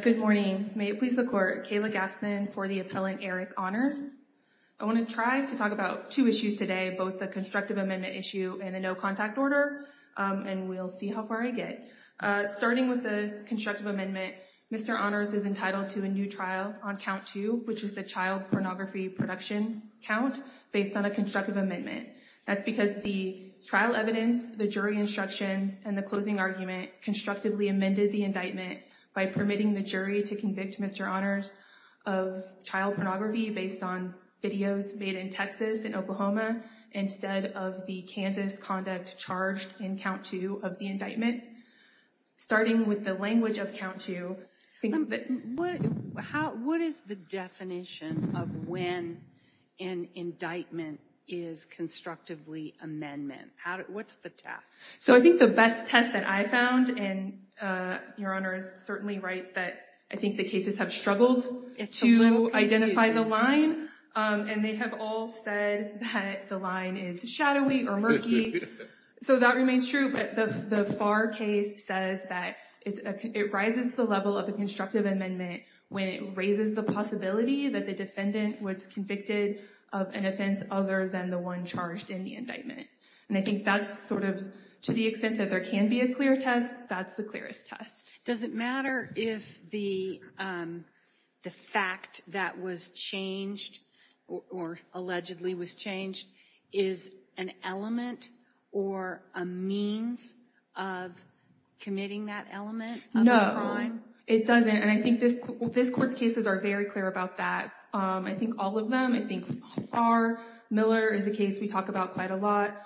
Good morning. May it please the court, Kayla Gassman for the appellant Eric Honors. I want to try to talk about two issues today, both the constructive amendment issue and the no contact order, and we'll see how far I get. Starting with the constructive amendment, Mr. Honors is entitled to a new trial on count two, which is the child pornography production count based on a constructive amendment. That's because the trial evidence, the jury instructions, and the closing argument constructively amended the indictment by permitting the jury to convict Mr. Honors of child pornography based on videos made in Texas and Oklahoma instead of the Kansas conduct charged in count two of the indictment. Starting with the language of count two, what is the definition of when an indictment is constructively amendment? What's the test? So I think the best test that I found, and your Honor is certainly right that I think the cases have struggled to identify the line, and they have all said that the line is shadowy or murky. So that remains true, but the FAR case says that it rises to the level of the constructive amendment when it raises the possibility that the defendant was convicted of an offense other than one charged in the indictment. And I think that's sort of, to the extent that there can be a clear test, that's the clearest test. Does it matter if the fact that was changed or allegedly was changed is an element or a means of committing that element? No, it doesn't. And I think this court's cases are very clear about that. I think all of them, I think FAR, Miller is a case we talk about quite a lot,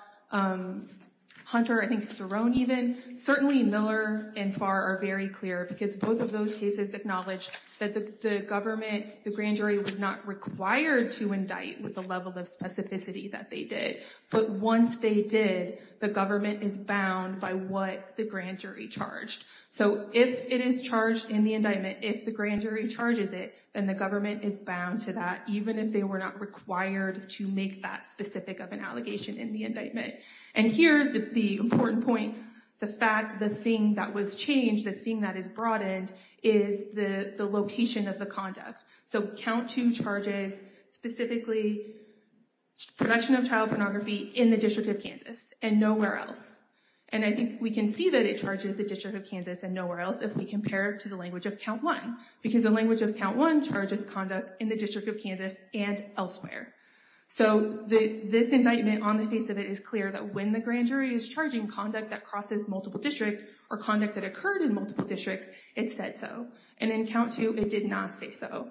Hunter, I think Sterone even, certainly Miller and FAR are very clear because both of those cases acknowledge that the government, the grand jury was not required to indict with the level of specificity that they did. But once they did, the government is bound by what the grand jury charges it, and the government is bound to that, even if they were not required to make that specific of an allegation in the indictment. And here, the important point, the fact the thing that was changed, the thing that is broadened, is the location of the conduct. So count two charges specifically production of child pornography in the District of Kansas and nowhere else. And I think we can see that it charges the District of Kansas and nowhere else if we compare to the language of count one, because the language of count one charges conduct in the District of Kansas and elsewhere. So this indictment on the face of it is clear that when the grand jury is charging conduct that crosses multiple districts or conduct that occurred in multiple districts, it said so. And in count two, it did not say so.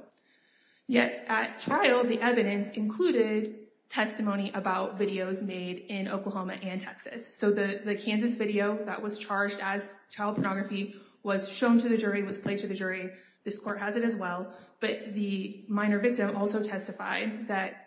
Yet at trial, the evidence included testimony about videos made in Oklahoma and Texas. So the Kansas video that was charged as child pornography was shown to the jury, was played to the jury. This court has it as well. But the minor victim also testified that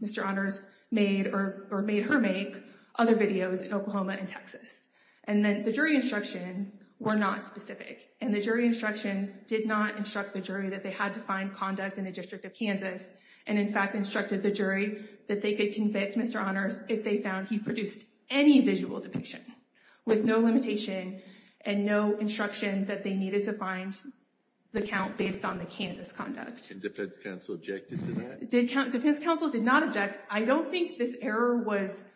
Mr. Honors made or made her make other videos in Oklahoma and Texas. And then the jury instructions were not specific. And the jury instructions did not instruct the jury that they had to find conduct in the District of Kansas, and in fact instructed the jury that they could convict Mr. Honors if they found he produced any visual depiction with no limitation and no instruction that they needed to find the count based on the Kansas conduct. And defense counsel objected to that? Defense counsel did not object. I don't think this error was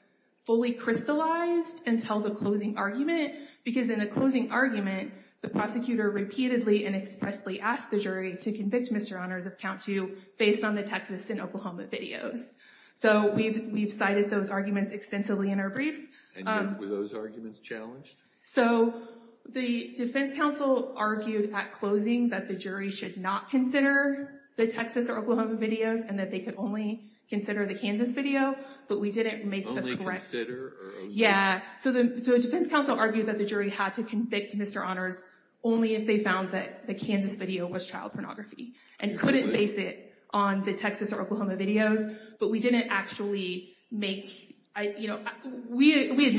fully crystallized until the closing argument, because in the closing argument, the prosecutor repeatedly and expressly asked the jury to convict Mr. Honors of count two based on the Texas and Oklahoma videos. So we've cited those arguments extensively in our briefs. Were those arguments challenged? So the defense counsel argued at closing that the jury should not consider the Texas or Oklahoma videos, and that they could only consider the Kansas video, but we didn't make the correct... Only consider or... Yeah. So the defense counsel argued that the jury had to convict Mr. Honors only if they found that the Kansas video was child pornography, and couldn't base it on the Texas or Oklahoma videos. But we didn't actually make... We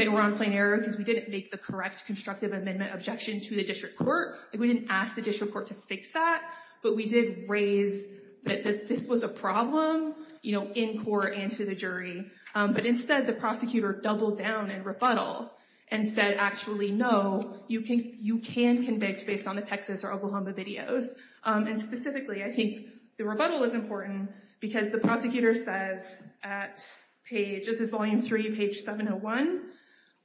were on plain error because we didn't make the correct constructive amendment objection to the district court. We didn't ask the district court to fix that, but we did raise that this was a problem in court and to the jury. But instead, the prosecutor doubled down in rebuttal and said, actually, no, you can convict based on the Texas or Oklahoma videos. And specifically, I think the rebuttal is important because the prosecutor says at page... This is volume three, page 701,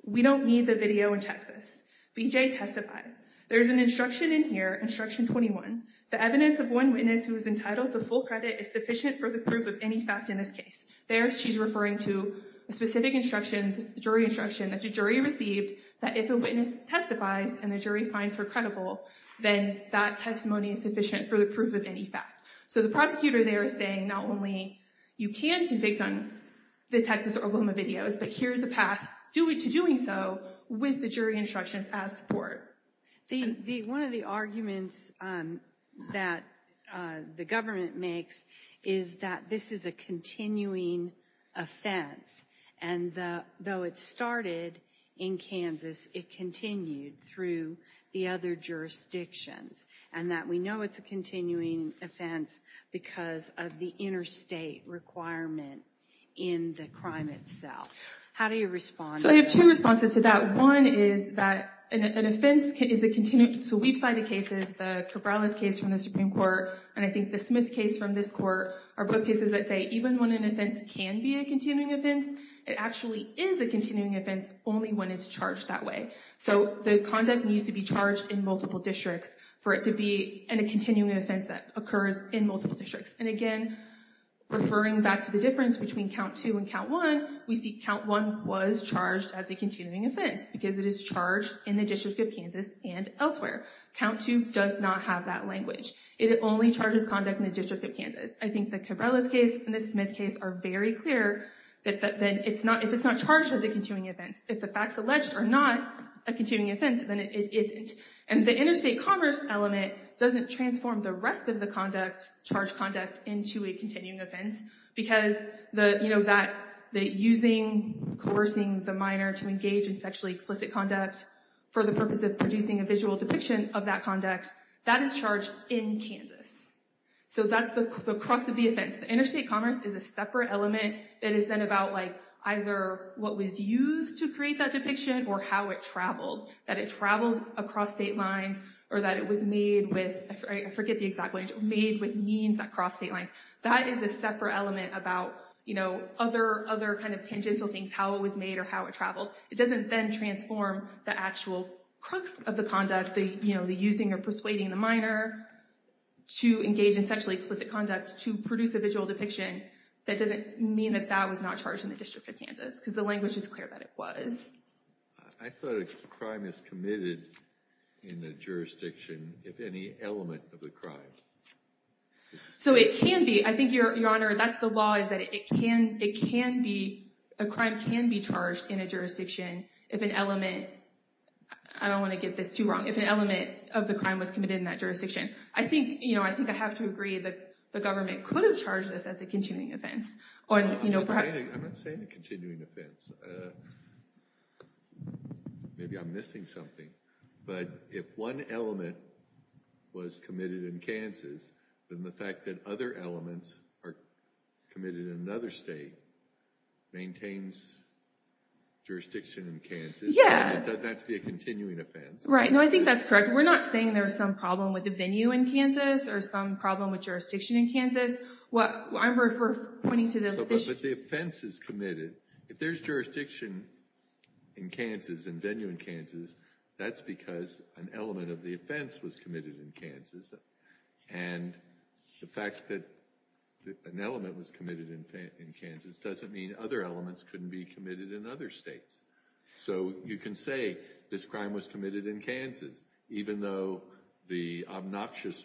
we don't need the video in Texas. BJ testified. There's an instruction in here, instruction 21, the evidence of one witness who is entitled to full credit is sufficient for the proof of any fact in this case. There, she's referring to a specific instruction, jury instruction that the jury received that if a witness testifies and the jury finds her credible, then that testimony is sufficient for the proof of any fact. So the prosecutor there is saying not only you can convict on the Texas or Oklahoma videos, but here's a path to doing so with the jury instructions as support. One of the arguments that the government makes is that this is a continuing offense. And though it started in Kansas, it continued through the other jurisdictions. And that we know it's a continuing offense because of the interstate requirement in the crime itself. How do you respond? So I have two responses to that. One is that an offense is a continuing... So we've cited cases, the Cabrales case from the Supreme Court, and I think the Smith case from this court are both cases that say even when an offense can be a continuing offense, it actually is a continuing offense only when it's charged that way. So the conduct needs to be charged in multiple districts for it to be in a continuing offense that occurs in multiple districts. And again, referring back to the difference between count two and count one, we see count one was charged as a continuing offense because it is charged in the District of Kansas and elsewhere. Count two does not have that language. It only charges conduct in the District of Kansas. I think the Cabrales case and the Smith case are very clear that if it's not charged as a continuing offense, if the facts alleged are not a continuing offense, then it isn't. And the interstate commerce element doesn't transform the rest of the conduct, charged conduct, into a continuing offense because using, coercing the minor to engage in sexually explicit conduct for the purpose of producing a visual depiction of that conduct, that is charged in Kansas. So that's the crux of the offense. The interstate commerce is a separate element that is then about like either what was used to create that depiction or how it traveled. That it traveled across state lines or that it was made with, I forget the exact language, made with means that cross state lines. That is a separate element about, you know, other kind of tangential things, how it was made or how it traveled. It doesn't then transform the actual crux of the conduct, you know, the using or persuading the minor to engage in sexually explicit conduct to produce a visual depiction. That doesn't mean that that was not charged in the District of Kansas because the language is clear that it was. I thought a crime is committed in the jurisdiction if any element of the crime. So it can be. I think, Your Honor, that's the law is that it can, it can be, a crime can be committed in a jurisdiction if an element, I don't want to get this too wrong, if an element of the crime was committed in that jurisdiction. I think, you know, I think I have to agree that the government could have charged this as a continuing offense or, you know, perhaps. I'm not saying a continuing offense. Maybe I'm missing something, but if one element was committed in Kansas, then the fact that other elements are committed in another state maintains jurisdiction in Kansas. Yeah. It doesn't have to be a continuing offense. Right. No, I think that's correct. We're not saying there's some problem with the venue in Kansas or some problem with jurisdiction in Kansas. What I'm referring, pointing to the. But the offense is committed. If there's jurisdiction in Kansas and venue in Kansas, that's because an element of the offense was committed in Kansas. And the fact that an element was committed in Kansas doesn't mean other elements couldn't be committed in other states. So you can say this crime was committed in Kansas, even though the obnoxious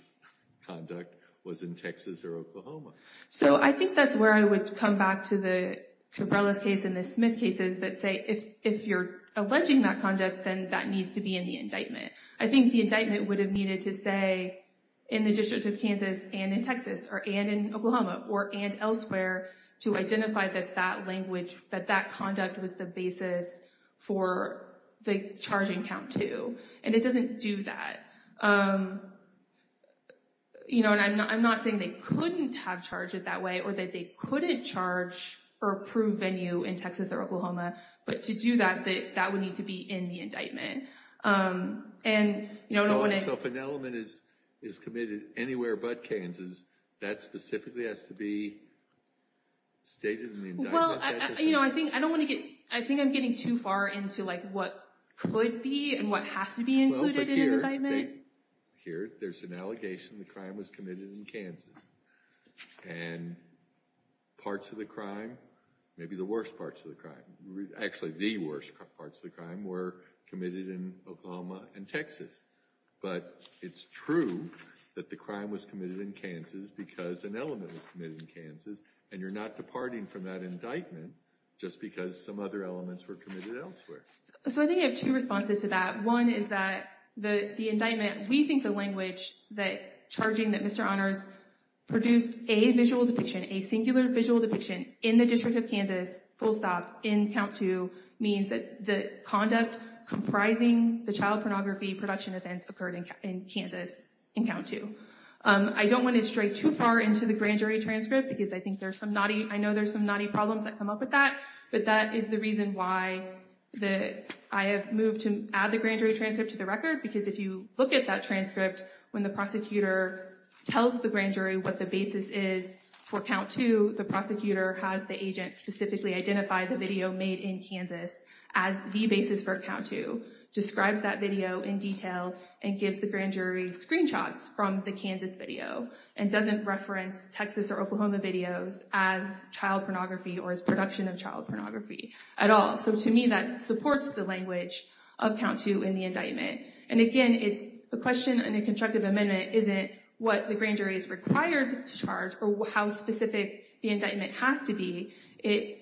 conduct was in Texas or Oklahoma. So I think that's where I would come back to the Cabrera's case and the Smith cases that say, if you're alleging that conduct, then that needs to be in the indictment. I think the indictment would have needed to say in the District of Kansas and in Texas or and in Oklahoma or and elsewhere to identify that that language, that that conduct was the basis for the charging count, too. And it doesn't do that. You know, and I'm not saying they couldn't have charged it that way or that they couldn't charge or approve venue in Texas or Oklahoma. But to do that, that would need to be in the indictment. And, you know, I don't want to. So if an element is committed anywhere but Kansas, that specifically has to be stated in the indictment? Well, you know, I think I don't want to get I think I'm getting too far into like what could be and what has to be included in an indictment. Here there's an allegation the crime was committed in Kansas and parts of the crime, maybe the worst parts of the crime, actually the worst parts of the crime, were committed in Oklahoma and Texas. But it's true that the crime was committed in Kansas because an element was committed in Kansas. And you're not departing from that indictment just because some other elements were committed elsewhere. So I think I have two responses to that. One is that the indictment, we think the language that charging that Mr. Honors produced a visual depiction, a singular visual depiction, in the District of Kansas, full stop, in count two, means that the conduct comprising the child pornography production events occurred in Kansas in count two. I don't want to stray too far into the grand jury transcript because I think there's some knotty, I know there's some knotty problems that come up with that. But that is the reason why I have moved to add the grand jury transcript to the record because if you look at that transcript, when the prosecutor tells the grand jury what the basis is for count two, the prosecutor has the agent specifically identify the video made in Kansas as the basis for count two, describes that video in detail, and gives the grand jury screenshots from the Kansas video, and doesn't reference Texas or Oklahoma videos as child pornography or as production of child pornography at all. So to me, that supports the language of count two in the indictment. And again, it's the question in a constructive amendment isn't what the grand jury is required to charge or how specific the indictment has to be.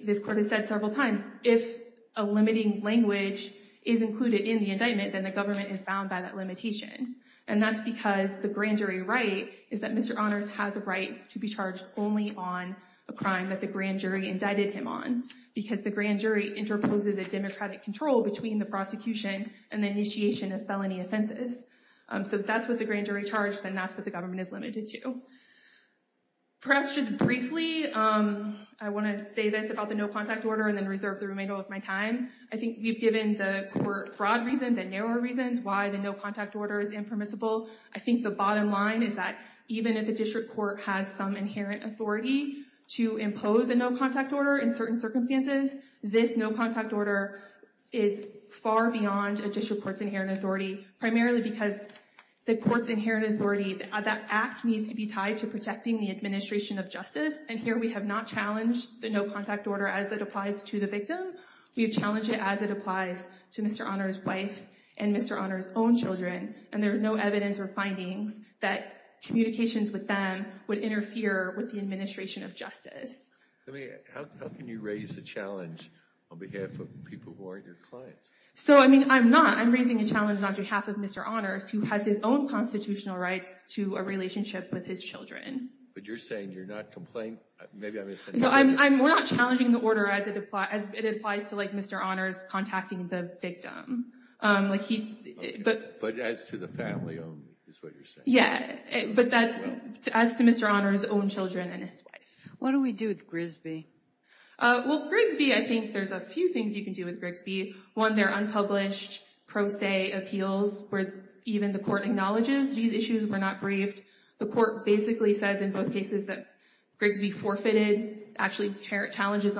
This court has said several times, if a limiting language is included in the indictment, then the government is bound by that limitation. And that's because the grand jury right is that Mr. Honors has a right to be charged only on a crime that the grand jury indicted him on, because the grand jury interposes a democratic control between the prosecution and the initiation of felony offenses. So if that's what the grand jury charged, then that's what the government is limited to. Perhaps just briefly, I want to say this about the no contact order and then reserve the remainder of my time. I think we've given the court broad reasons and narrower reasons why the no order is impermissible. I think the bottom line is that even if a district court has some inherent authority to impose a no contact order in certain circumstances, this no contact order is far beyond a district court's inherent authority, primarily because the court's inherent authority, that act needs to be tied to protecting the administration of justice. And here we have not challenged the no contact order as it applies to the victim. We have challenged it as it applies to Mr. Honors' wife and Mr. Honors' own children, and there's no evidence or findings that communications with them would interfere with the administration of justice. How can you raise a challenge on behalf of people who aren't your clients? So, I mean, I'm not. I'm raising a challenge on behalf of Mr. Honors, who has his own constitutional rights to a relationship with his children. But you're saying you're not complaining? Maybe I'm misunderstanding. No, we're not challenging the order as it applies to, like, Mr. Honors contacting the victim. But as to the family only, is what you're saying? Yeah, but that's as to Mr. Honors' own children and his wife. What do we do with Grigsby? Well, Grigsby, I think there's a few things you can do with Grigsby. One, they're unpublished, pro se appeals, where even the court acknowledges these issues were not briefed.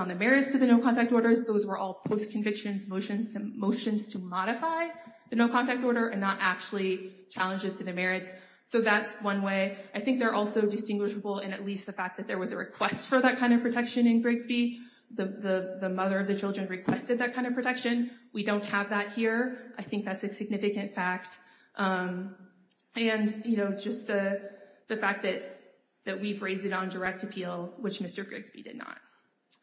The merits to the no-contact orders, those were all post-convictions motions to modify the no-contact order and not actually challenges to the merits. So that's one way. I think they're also distinguishable in at least the fact that there was a request for that kind of protection in Grigsby. The mother of the children requested that kind of protection. We don't have that here. I think that's a significant fact. And, you know, just the fact that we've raised it on direct appeal, which Mr. Grigsby did not.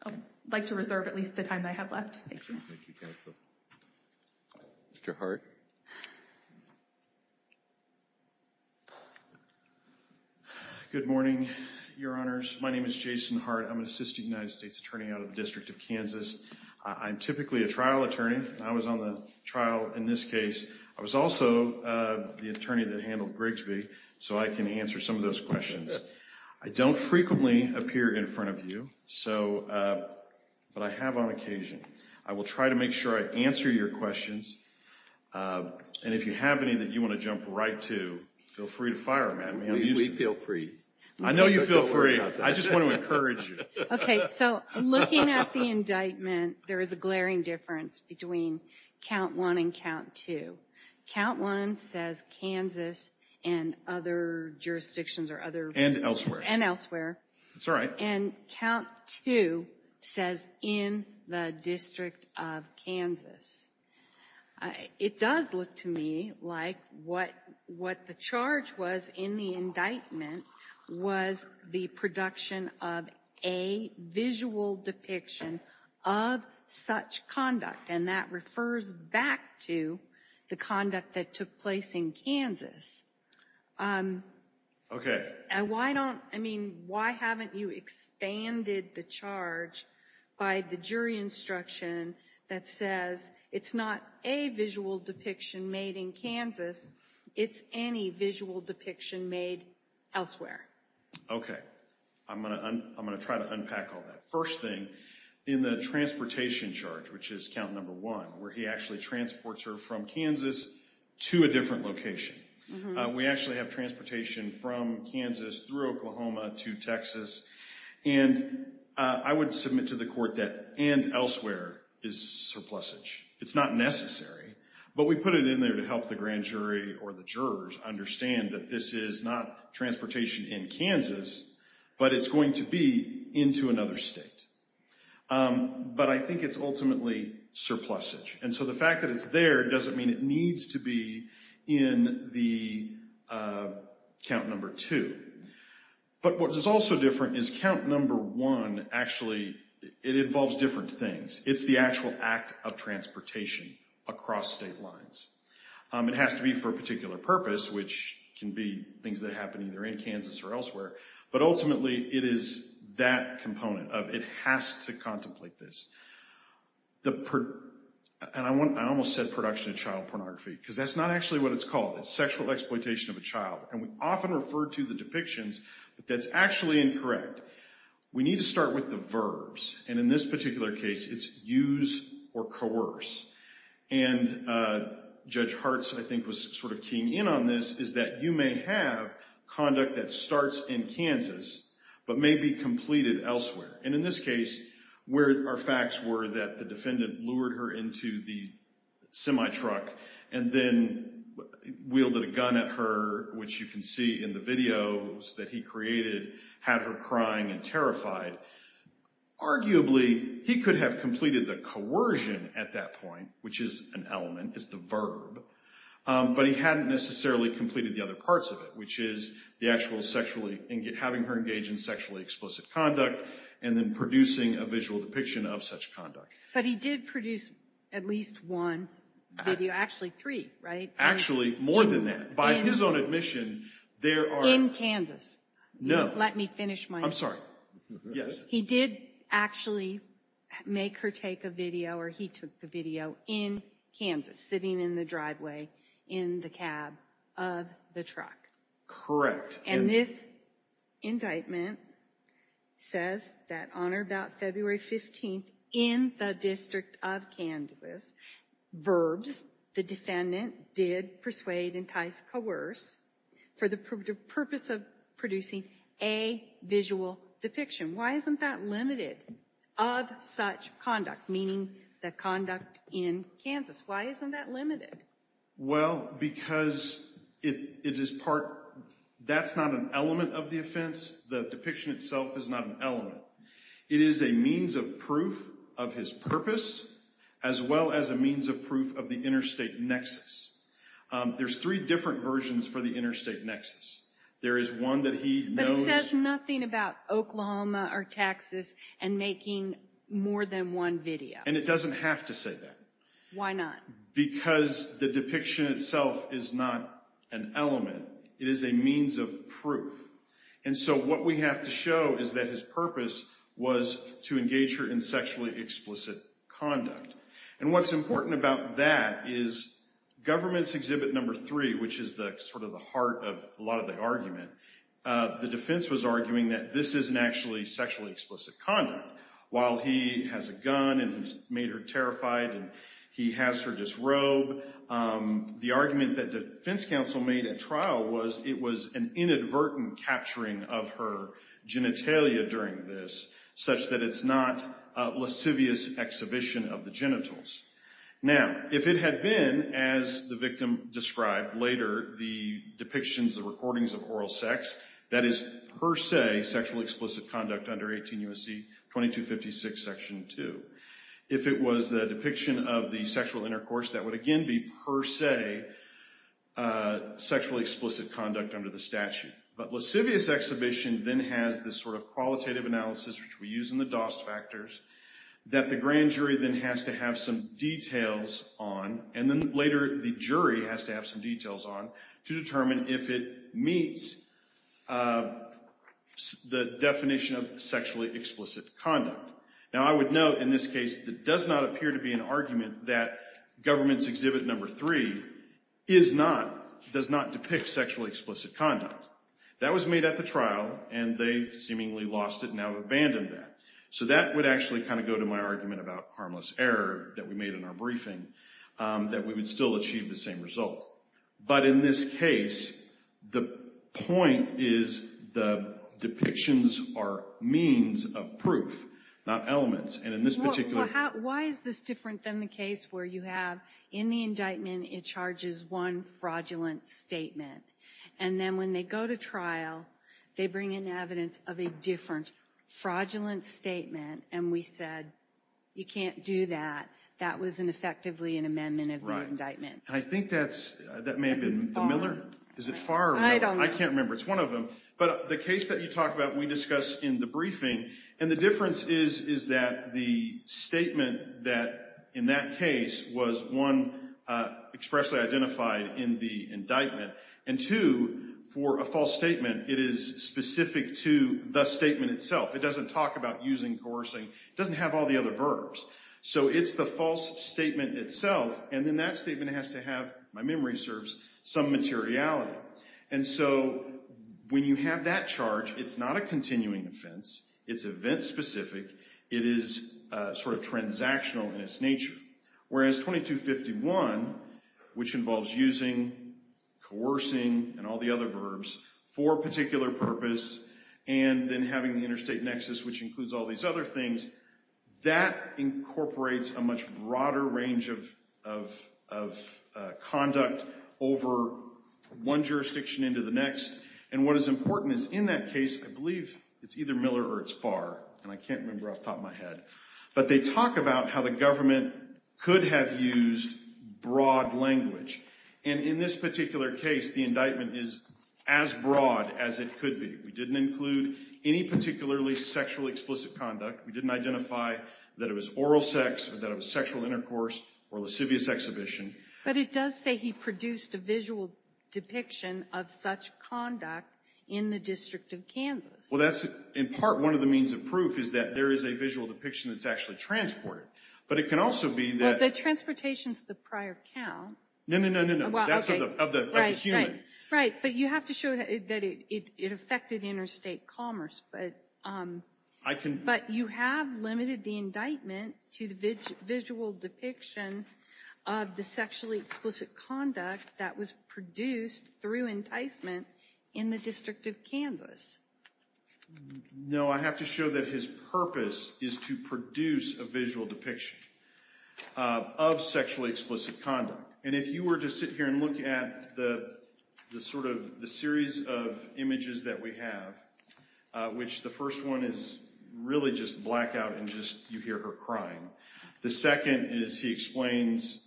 I'd like to reserve at least the time I have left. Thank you. Thank you, counsel. Mr. Hart. Good morning, Your Honors. My name is Jason Hart. I'm an assistant United States attorney out of the District of Kansas. I'm typically a trial attorney. I was on the trial in this case. I was also the attorney that handled Grigsby, so I can answer some of those questions. I don't frequently appear in front of you, but I have on occasion. I will try to make sure I answer your questions. And if you have any that you want to jump right to, feel free to fire them at me. We feel free. I know you feel free. I just want to encourage you. Okay, so looking at the indictment, there is a glaring difference between Count 1 and Count 2. Count 1 says Kansas and other jurisdictions or other... And elsewhere. And elsewhere. That's right. And Count 2 says in the District of Kansas. It does look to me like what the charge was in the indictment was the production of a visual depiction of such conduct. And that refers back to the conduct that took place in Kansas. Okay. And why don't... I mean, why haven't you expanded the charge by the jury instruction that says it's not a visual depiction made in Kansas. It's any visual depiction made elsewhere. Okay. I'm going to try to unpack all that. First thing, in the transportation charge, which is Count 1, where he actually transports her from Kansas to a different location. We actually have transportation from Kansas through Oklahoma to Texas. And I would submit to the court that and elsewhere is surplusage. It's not necessary, but we put it in there to help the grand jury or the jurors understand that this is not transportation in Kansas, but it's going to be into another state. But I think it's ultimately surplusage. And so the fact that it's there doesn't mean it needs to be in the Count Number 2. But what is also different is Count Number 1 actually, it involves different things. It's the actual act of transportation across state lines. It has to be for a particular purpose, which can be things that happen either in Kansas or elsewhere. But ultimately, it is that component of it has to contemplate this. And I almost said production of child pornography because that's not actually what it's called. It's sexual exploitation of a child. And we often refer to the depictions, but that's actually incorrect. We need to start with the verbs. And in this particular case, it's use or coerce. And Judge Hartz, I think was sort of saying that the premise is that you may have conduct that starts in Kansas, but may be completed elsewhere. And in this case, where our facts were that the defendant lured her into the semi-truck and then wielded a gun at her, which you can see in the videos that he created, had her crying and terrified. Arguably, he could have completed the coercion at that point, which is an element, is the verb. But he hadn't necessarily completed the other parts of it, which is having her engage in sexually explicit conduct and then producing a visual depiction of such conduct. But he did produce at least one video, actually three, right? Actually, more than that. By his own admission, there are... In Kansas. No. Let me finish my... I'm sorry. Yes. He did actually make her take a video or he took the video in Kansas, sitting in the driveway in the cab of the truck. And this indictment says that on or about February 15th in the District of Kansas, verbs, the defendant did persuade, entice, coerce for the purpose of producing a visual depiction. Why isn't that limited of such conduct, meaning the conduct in Kansas? Why isn't that limited? Well, because it is part... That's not an element of the offense. The depiction itself is not an element. It is a means of proof of his purpose, as well as a means of proof of the interstate nexus. There's three different versions for the interstate nexus. There is one that he knows... Or Texas, and making more than one video. And it doesn't have to say that. Why not? Because the depiction itself is not an element. It is a means of proof. And so what we have to show is that his purpose was to engage her in sexually explicit conduct. And what's important about that is government's exhibit number three, which is the sort of the heart of a lot of the argument, the defense was arguing that this isn't actually sexually explicit conduct. While he has a gun, and he's made her terrified, and he has her disrobe, the argument that defense counsel made at trial was it was an inadvertent capturing of her genitalia during this, such that it's not a lascivious exhibition of the genitals. Now, if it had been as the victim described later, the depictions, the recordings of oral sex, that is per se sexually explicit conduct under 18 U.S.C. 2256, section two. If it was the depiction of the sexual intercourse, that would again be per se sexually explicit conduct under the statute. But lascivious exhibition then has this sort of qualitative analysis, which we use in the DOST factors, that the grand jury then has to have some details on. And then later, the jury has to have some details on to determine if it meets the definition of sexually explicit conduct. Now, I would note in this case, that does not appear to be an argument that government's exhibit number three is not, does not depict sexually explicit conduct. That was made at the trial, and they seemingly lost it, now abandoned that. So that would actually kind of go to my argument about harmless error that we made in our briefing. That we would still achieve the same result. But in this case, the point is, the depictions are means of proof, not elements. And in this particular... Well, how, why is this different than the case where you have, in the indictment, it charges one fraudulent statement. And then when they go to trial, they bring in evidence of a different fraudulent statement. And we said, you can't do that. That was an effectively an amendment of the indictment. I think that's, that may have been the Miller. Is it Farr or Miller? I can't remember. It's one of them. But the case that you talk about, we discussed in the briefing. And the difference is, is that the statement that in that case was, one, expressly identified in the indictment. And two, for a false statement, it is specific to the statement itself. It doesn't talk about using coercing. It doesn't have all the other verbs. So it's the false statement itself. And then that statement has to have, my memory serves, some materiality. And so when you have that charge, it's not a continuing offense. It's event-specific. It is sort of transactional in its nature. Whereas 2251, which involves using coercing and all the other verbs for a particular purpose, and then having the interstate nexus, which includes all these other things, that incorporates a much broader range of conduct over one jurisdiction into the next. And what is important is, in that case, I believe it's either Miller or it's Farr. And I can't remember off the top of my head. But they talk about how the government could have used broad language. And in this particular case, the indictment is as broad as it could be. We didn't include any particularly sexually explicit conduct. We didn't identify that it was oral sex, or that it was sexual intercourse, or lascivious exhibition. But it does say he produced a visual depiction of such conduct in the District of Kansas. Well, that's in part one of the means of proof, is that there is a visual depiction that's actually transported. But it can also be that... Well, the transportation's the prior count. No, no, no, no, no. That's of the human. Right. But you have to show that it affected interstate commerce. But you have limited the indictment to the visual depiction of the sexually explicit conduct that was produced through enticement in the District of Kansas. No, I have to show that his purpose is to produce a visual depiction of sexually explicit conduct. And if you were to sit here and look at the series of images that we have, which the first one is really just blackout, and just you hear her crying. The second is he explains...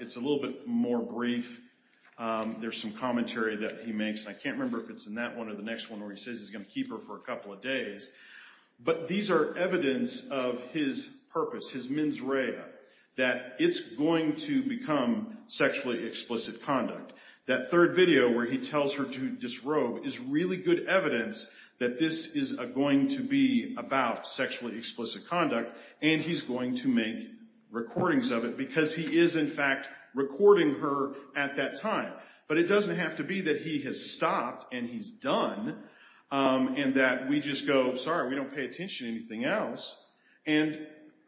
It's a little bit more brief. There's some commentary that he makes. And I can't remember if it's in that one or the next one, where he says he's going to keep her for a couple of days. But these are evidence of his purpose, his mens rea, that it's going to become sexually explicit conduct. That third video where he tells her to disrobe is really good evidence that this is going to be about sexually explicit conduct. And he's going to make recordings of it. Because he is, in fact, recording her at that time. But it doesn't have to be that he has stopped and he's done. And that we just go, sorry, we don't pay attention to anything else. And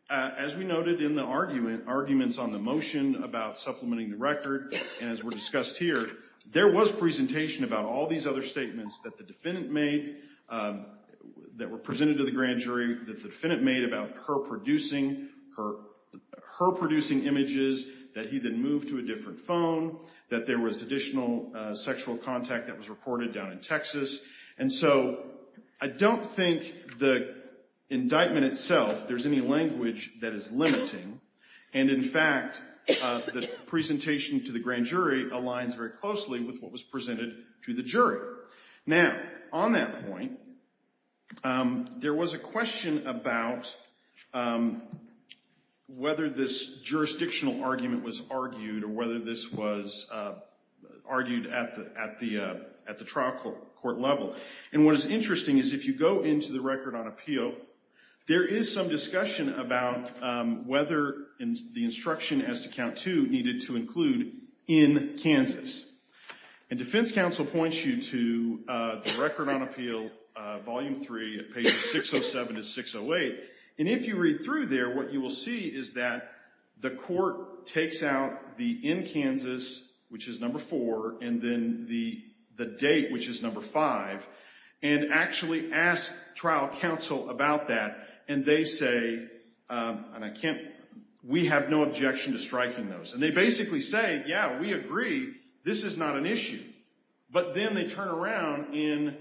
as we noted in the arguments on the motion about supplementing the record, and as we discussed here, there was presentation about all these other statements that the defendant made, that were presented to the grand jury, that the defendant made about her producing images, that he then moved to a different phone, that there was additional sexual contact that was recorded down in Texas. And so I don't think the indictment itself, there's any language that is limiting. And in fact, the presentation to the grand jury aligns very closely with what was presented to the jury. Now, on that point, there was a question about whether this jurisdictional argument was argued or whether this was argued at the trial court level. And what is interesting is if you go into the record on appeal, there is some discussion about whether the instruction as to count two needed to include in Kansas. And defense counsel points you to the record on appeal, volume three at pages 607 to 608. And if you read through there, what you will see is that the court takes out the in Kansas, which is number four, and then the date, which is number five, and actually ask trial counsel about that. And they say, and I can't, we have no objection to striking those. And they basically say, yeah, we agree. This is not an issue. But then they turn around in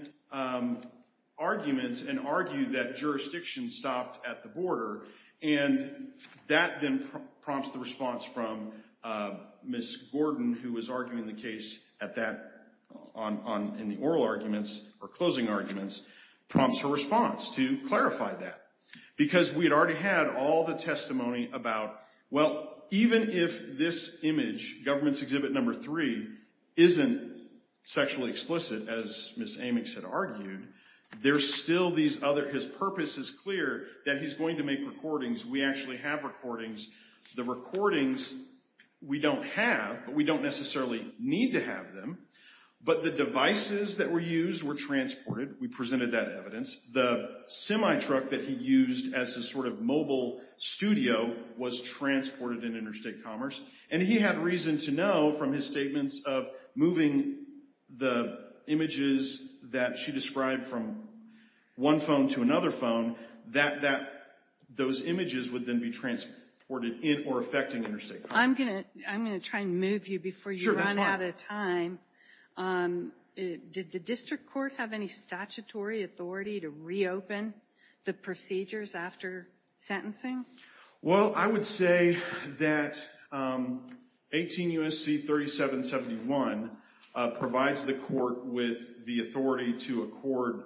arguments and argue that jurisdiction stopped at the border. And that then prompts the response from Ms. Gordon, who was arguing the case at that, in the oral arguments or closing arguments, prompts her response to clarify that. Because we'd already had all the testimony about, well, even if this image, government's exhibit number three, isn't sexually explicit, as Ms. Amicks had argued, there's still these other, his purpose is clear that he's going to make recordings. We actually have recordings. The recordings we don't have, but we don't necessarily need to have them. But the devices that were used were transported. We presented that evidence. The semi-truck that he used as a sort of mobile studio was transported in Interstate Commerce. And he had reason to know from his statements of moving the images that she described from one phone to another phone, that those images would then be transported in or affecting Interstate Commerce. I'm going to try and move you before you run out of time. Did the district court have any statutory authority to reopen the procedures after sentencing? Well, I would say that 18 U.S.C. 3771 provides the court with the authority to accord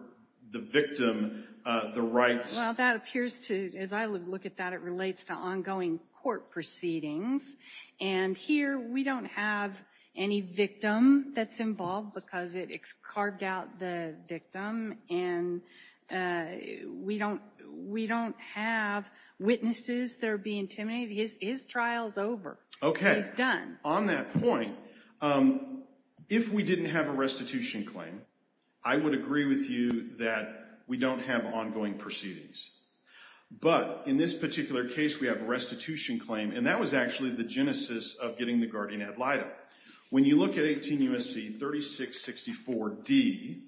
the victim the rights. Well, that appears to, as I look at that, it relates to ongoing court proceedings. And here, we don't have any victim that's involved because it carved out the victim. And we don't have witnesses that are being intimidated. His trial's over. Okay. He's done. On that point, if we didn't have a restitution claim, I would agree with you that we don't have ongoing proceedings. But in this particular case, we have a restitution claim. And that was actually the genesis of getting the guardian ad litem. When you look at 18 U.S.C. 3664D,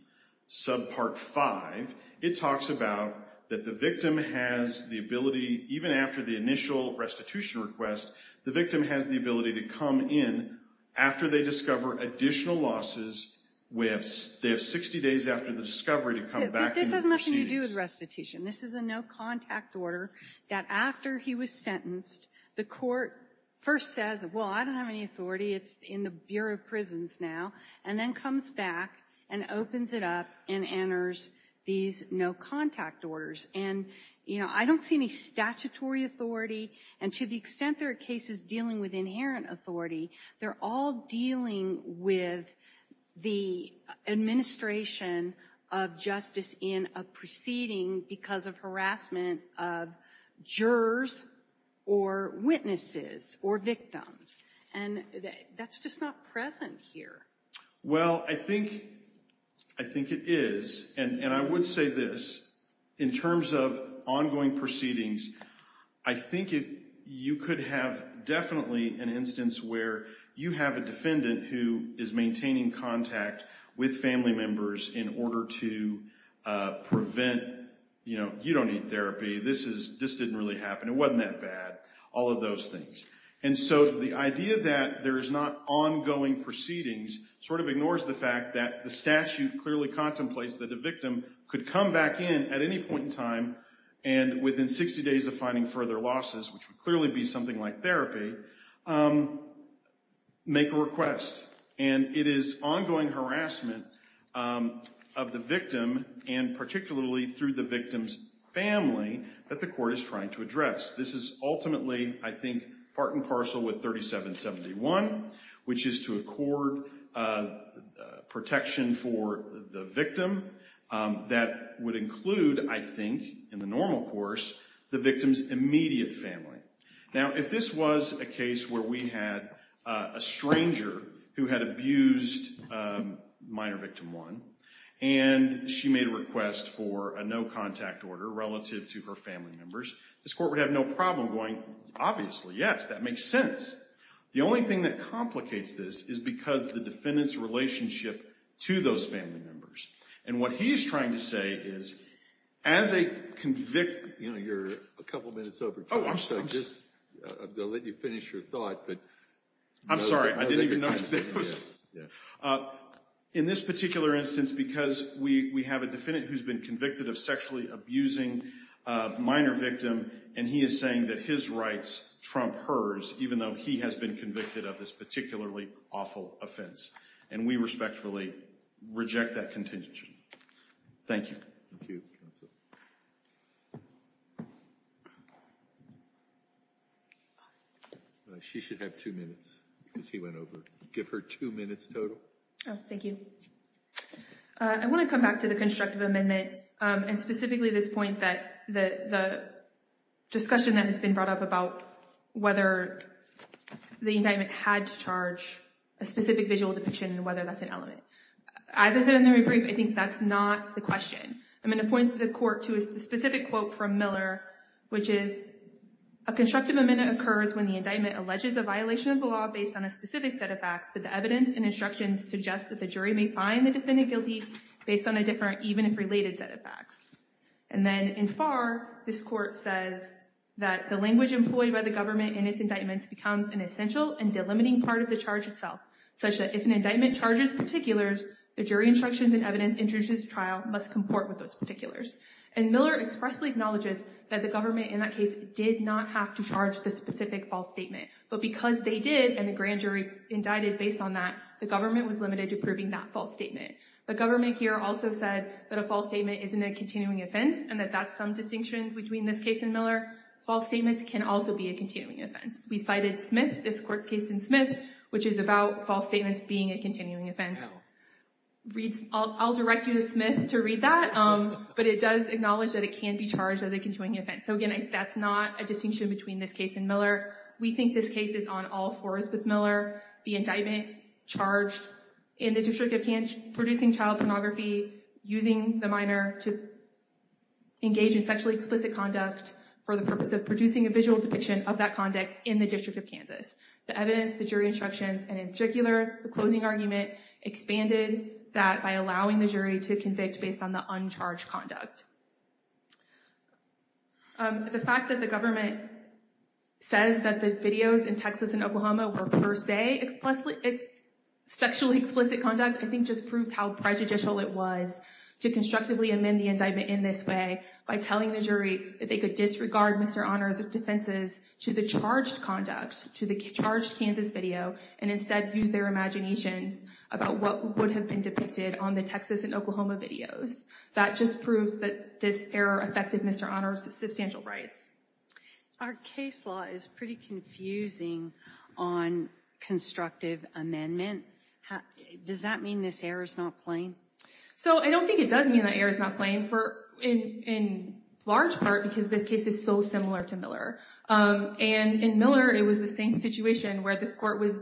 sub part five, it talks about that the victim has the ability, even after the initial restitution request, the victim has the ability to come in after they discover additional losses. They have 60 days after the discovery to come back in the proceedings. But this has nothing to do with restitution. This is a no-contact order that after he was sentenced, the court first says, well, I don't have any authority. It's in the Bureau of Prisons now. And then comes back and opens it up and enters these no-contact orders. And, you know, I don't see any statutory authority. And to the extent there are cases dealing with inherent authority, they're all dealing with the administration of justice in a proceeding because of harassment of jurors or witnesses or victims. And that's just not present here. Well, I think it is. And I would say this, in terms of ongoing proceedings, I think you could have definitely an instance where you have a defendant who is maintaining contact with family members in order to prevent, you know, you don't need therapy. This didn't really happen. It wasn't that bad. All of those things. And so the idea that there is not ongoing proceedings sort of ignores the fact that the statute clearly contemplates that a victim could come back in at any point in time and within 60 days of finding further losses, which would clearly be something like therapy, make a request. And it is ongoing harassment of the victim and particularly through the victim's family that the court is trying to address. This is ultimately, I think, part and parcel with 3771, which is to accord protection for the victim that would include, I think, in the normal course, the victim's immediate family. Now, if this was a case where we had a stranger who had abused minor victim one and she made a request for a no-contact order relative to her family members, this court would have no problem going, obviously, yes, that makes sense. The only thing that complicates this is because the defendant's relationship to those family members. And what he's trying to say is, as a convict, you know, you're a couple of minutes over time, so just, I'll let you finish your thought, but I'm sorry, I didn't even notice. In this particular instance, because we have a defendant who's been convicted of sexually abusing a minor victim and he is saying that his rights trump hers, even though he has been convicted of this particularly awful offense, and we respectfully reject that contingency. Thank you. Thank you, counsel. She should have two minutes because he went over. Give her two minutes total. Oh, thank you. I want to come back to the constructive amendment and specifically this point that the discussion that has been brought up about whether the indictment had to charge a specific visual depiction and whether that's an element. As I said in the rebrief, I think that's not the question. I'm going to point the court to the specific quote from Miller, which is, a constructive amendment occurs when the indictment alleges a violation of the law based on a specific set of facts, but the evidence and instructions suggest that the jury may find the defendant guilty based on a different, even if related, set of facts. And then in Farr, this court says that the language employed by the government in its indictments becomes an essential and delimiting part of the charge itself, such that if an indictment charges particulars, the jury instructions and evidence introduced in the trial must comport with those particulars. And Miller expressly acknowledges that the government in that case did not have to charge the specific false statement, but because they did and the grand jury indicted based on that, the government was limited to proving that false statement. The government here also said that a false statement isn't a continuing offense and that that's some distinction between this case and Miller. False statements can also be a continuing offense. We cited Smith, this court's case in Smith, which is about false statements being a continuing offense. I'll direct you to Smith to read that, but it does acknowledge that it can be charged as a continuing offense. So again, that's not a distinction between this case and Miller. We think this case is on all fours, the indictment charged in the District of Kansas producing child pornography, using the minor to engage in sexually explicit conduct for the purpose of producing a visual depiction of that conduct in the District of Kansas. The evidence, the jury instructions, and in particular, the closing argument expanded that by allowing the jury to convict based on the uncharged conduct. The fact that the government says that the videos in Texas and Oklahoma were per se sexually explicit conduct, I think just proves how prejudicial it was to constructively amend the indictment in this way by telling the jury that they could disregard Mr. Honor's defenses to the charged conduct, to the charged Kansas video, and instead use their imaginations about what would have been depicted on the Texas and Oklahoma videos. That just proves that this error affected Mr. Honor's substantial rights. Our case law is pretty confusing on constructive amendment. Does that mean this error is not plain? So I don't think it does mean that error is not plain in large part because this case is so similar to Miller. And in Miller, it was the same situation where this court was,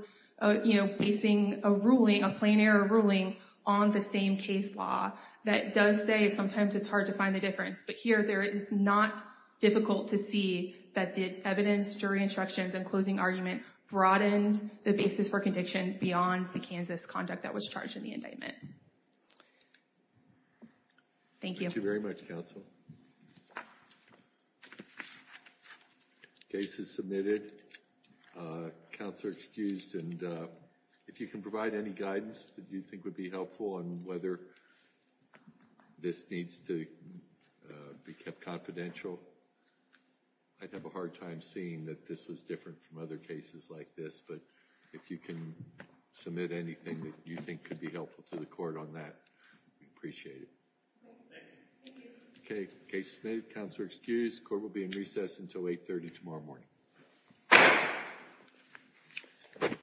you know, facing a ruling, a plain error ruling on the same case law that does say sometimes it's hard to find the difference. But here, there is not difficult to see that the evidence, jury instructions, and closing argument broadened the basis for conviction beyond the Kansas conduct that was charged in the indictment. Thank you. Thank you very much, counsel. Case is submitted. Counselor excused. And if you can provide any guidance that you think would be helpful on whether this needs to be kept confidential, I'd have a hard time seeing that this was different from other cases like this. But if you can submit anything that you think could be helpful to the court on that, we'd appreciate it. Okay. Case submitted. Counselor excused. Court will be in recess until 8 30 tomorrow morning.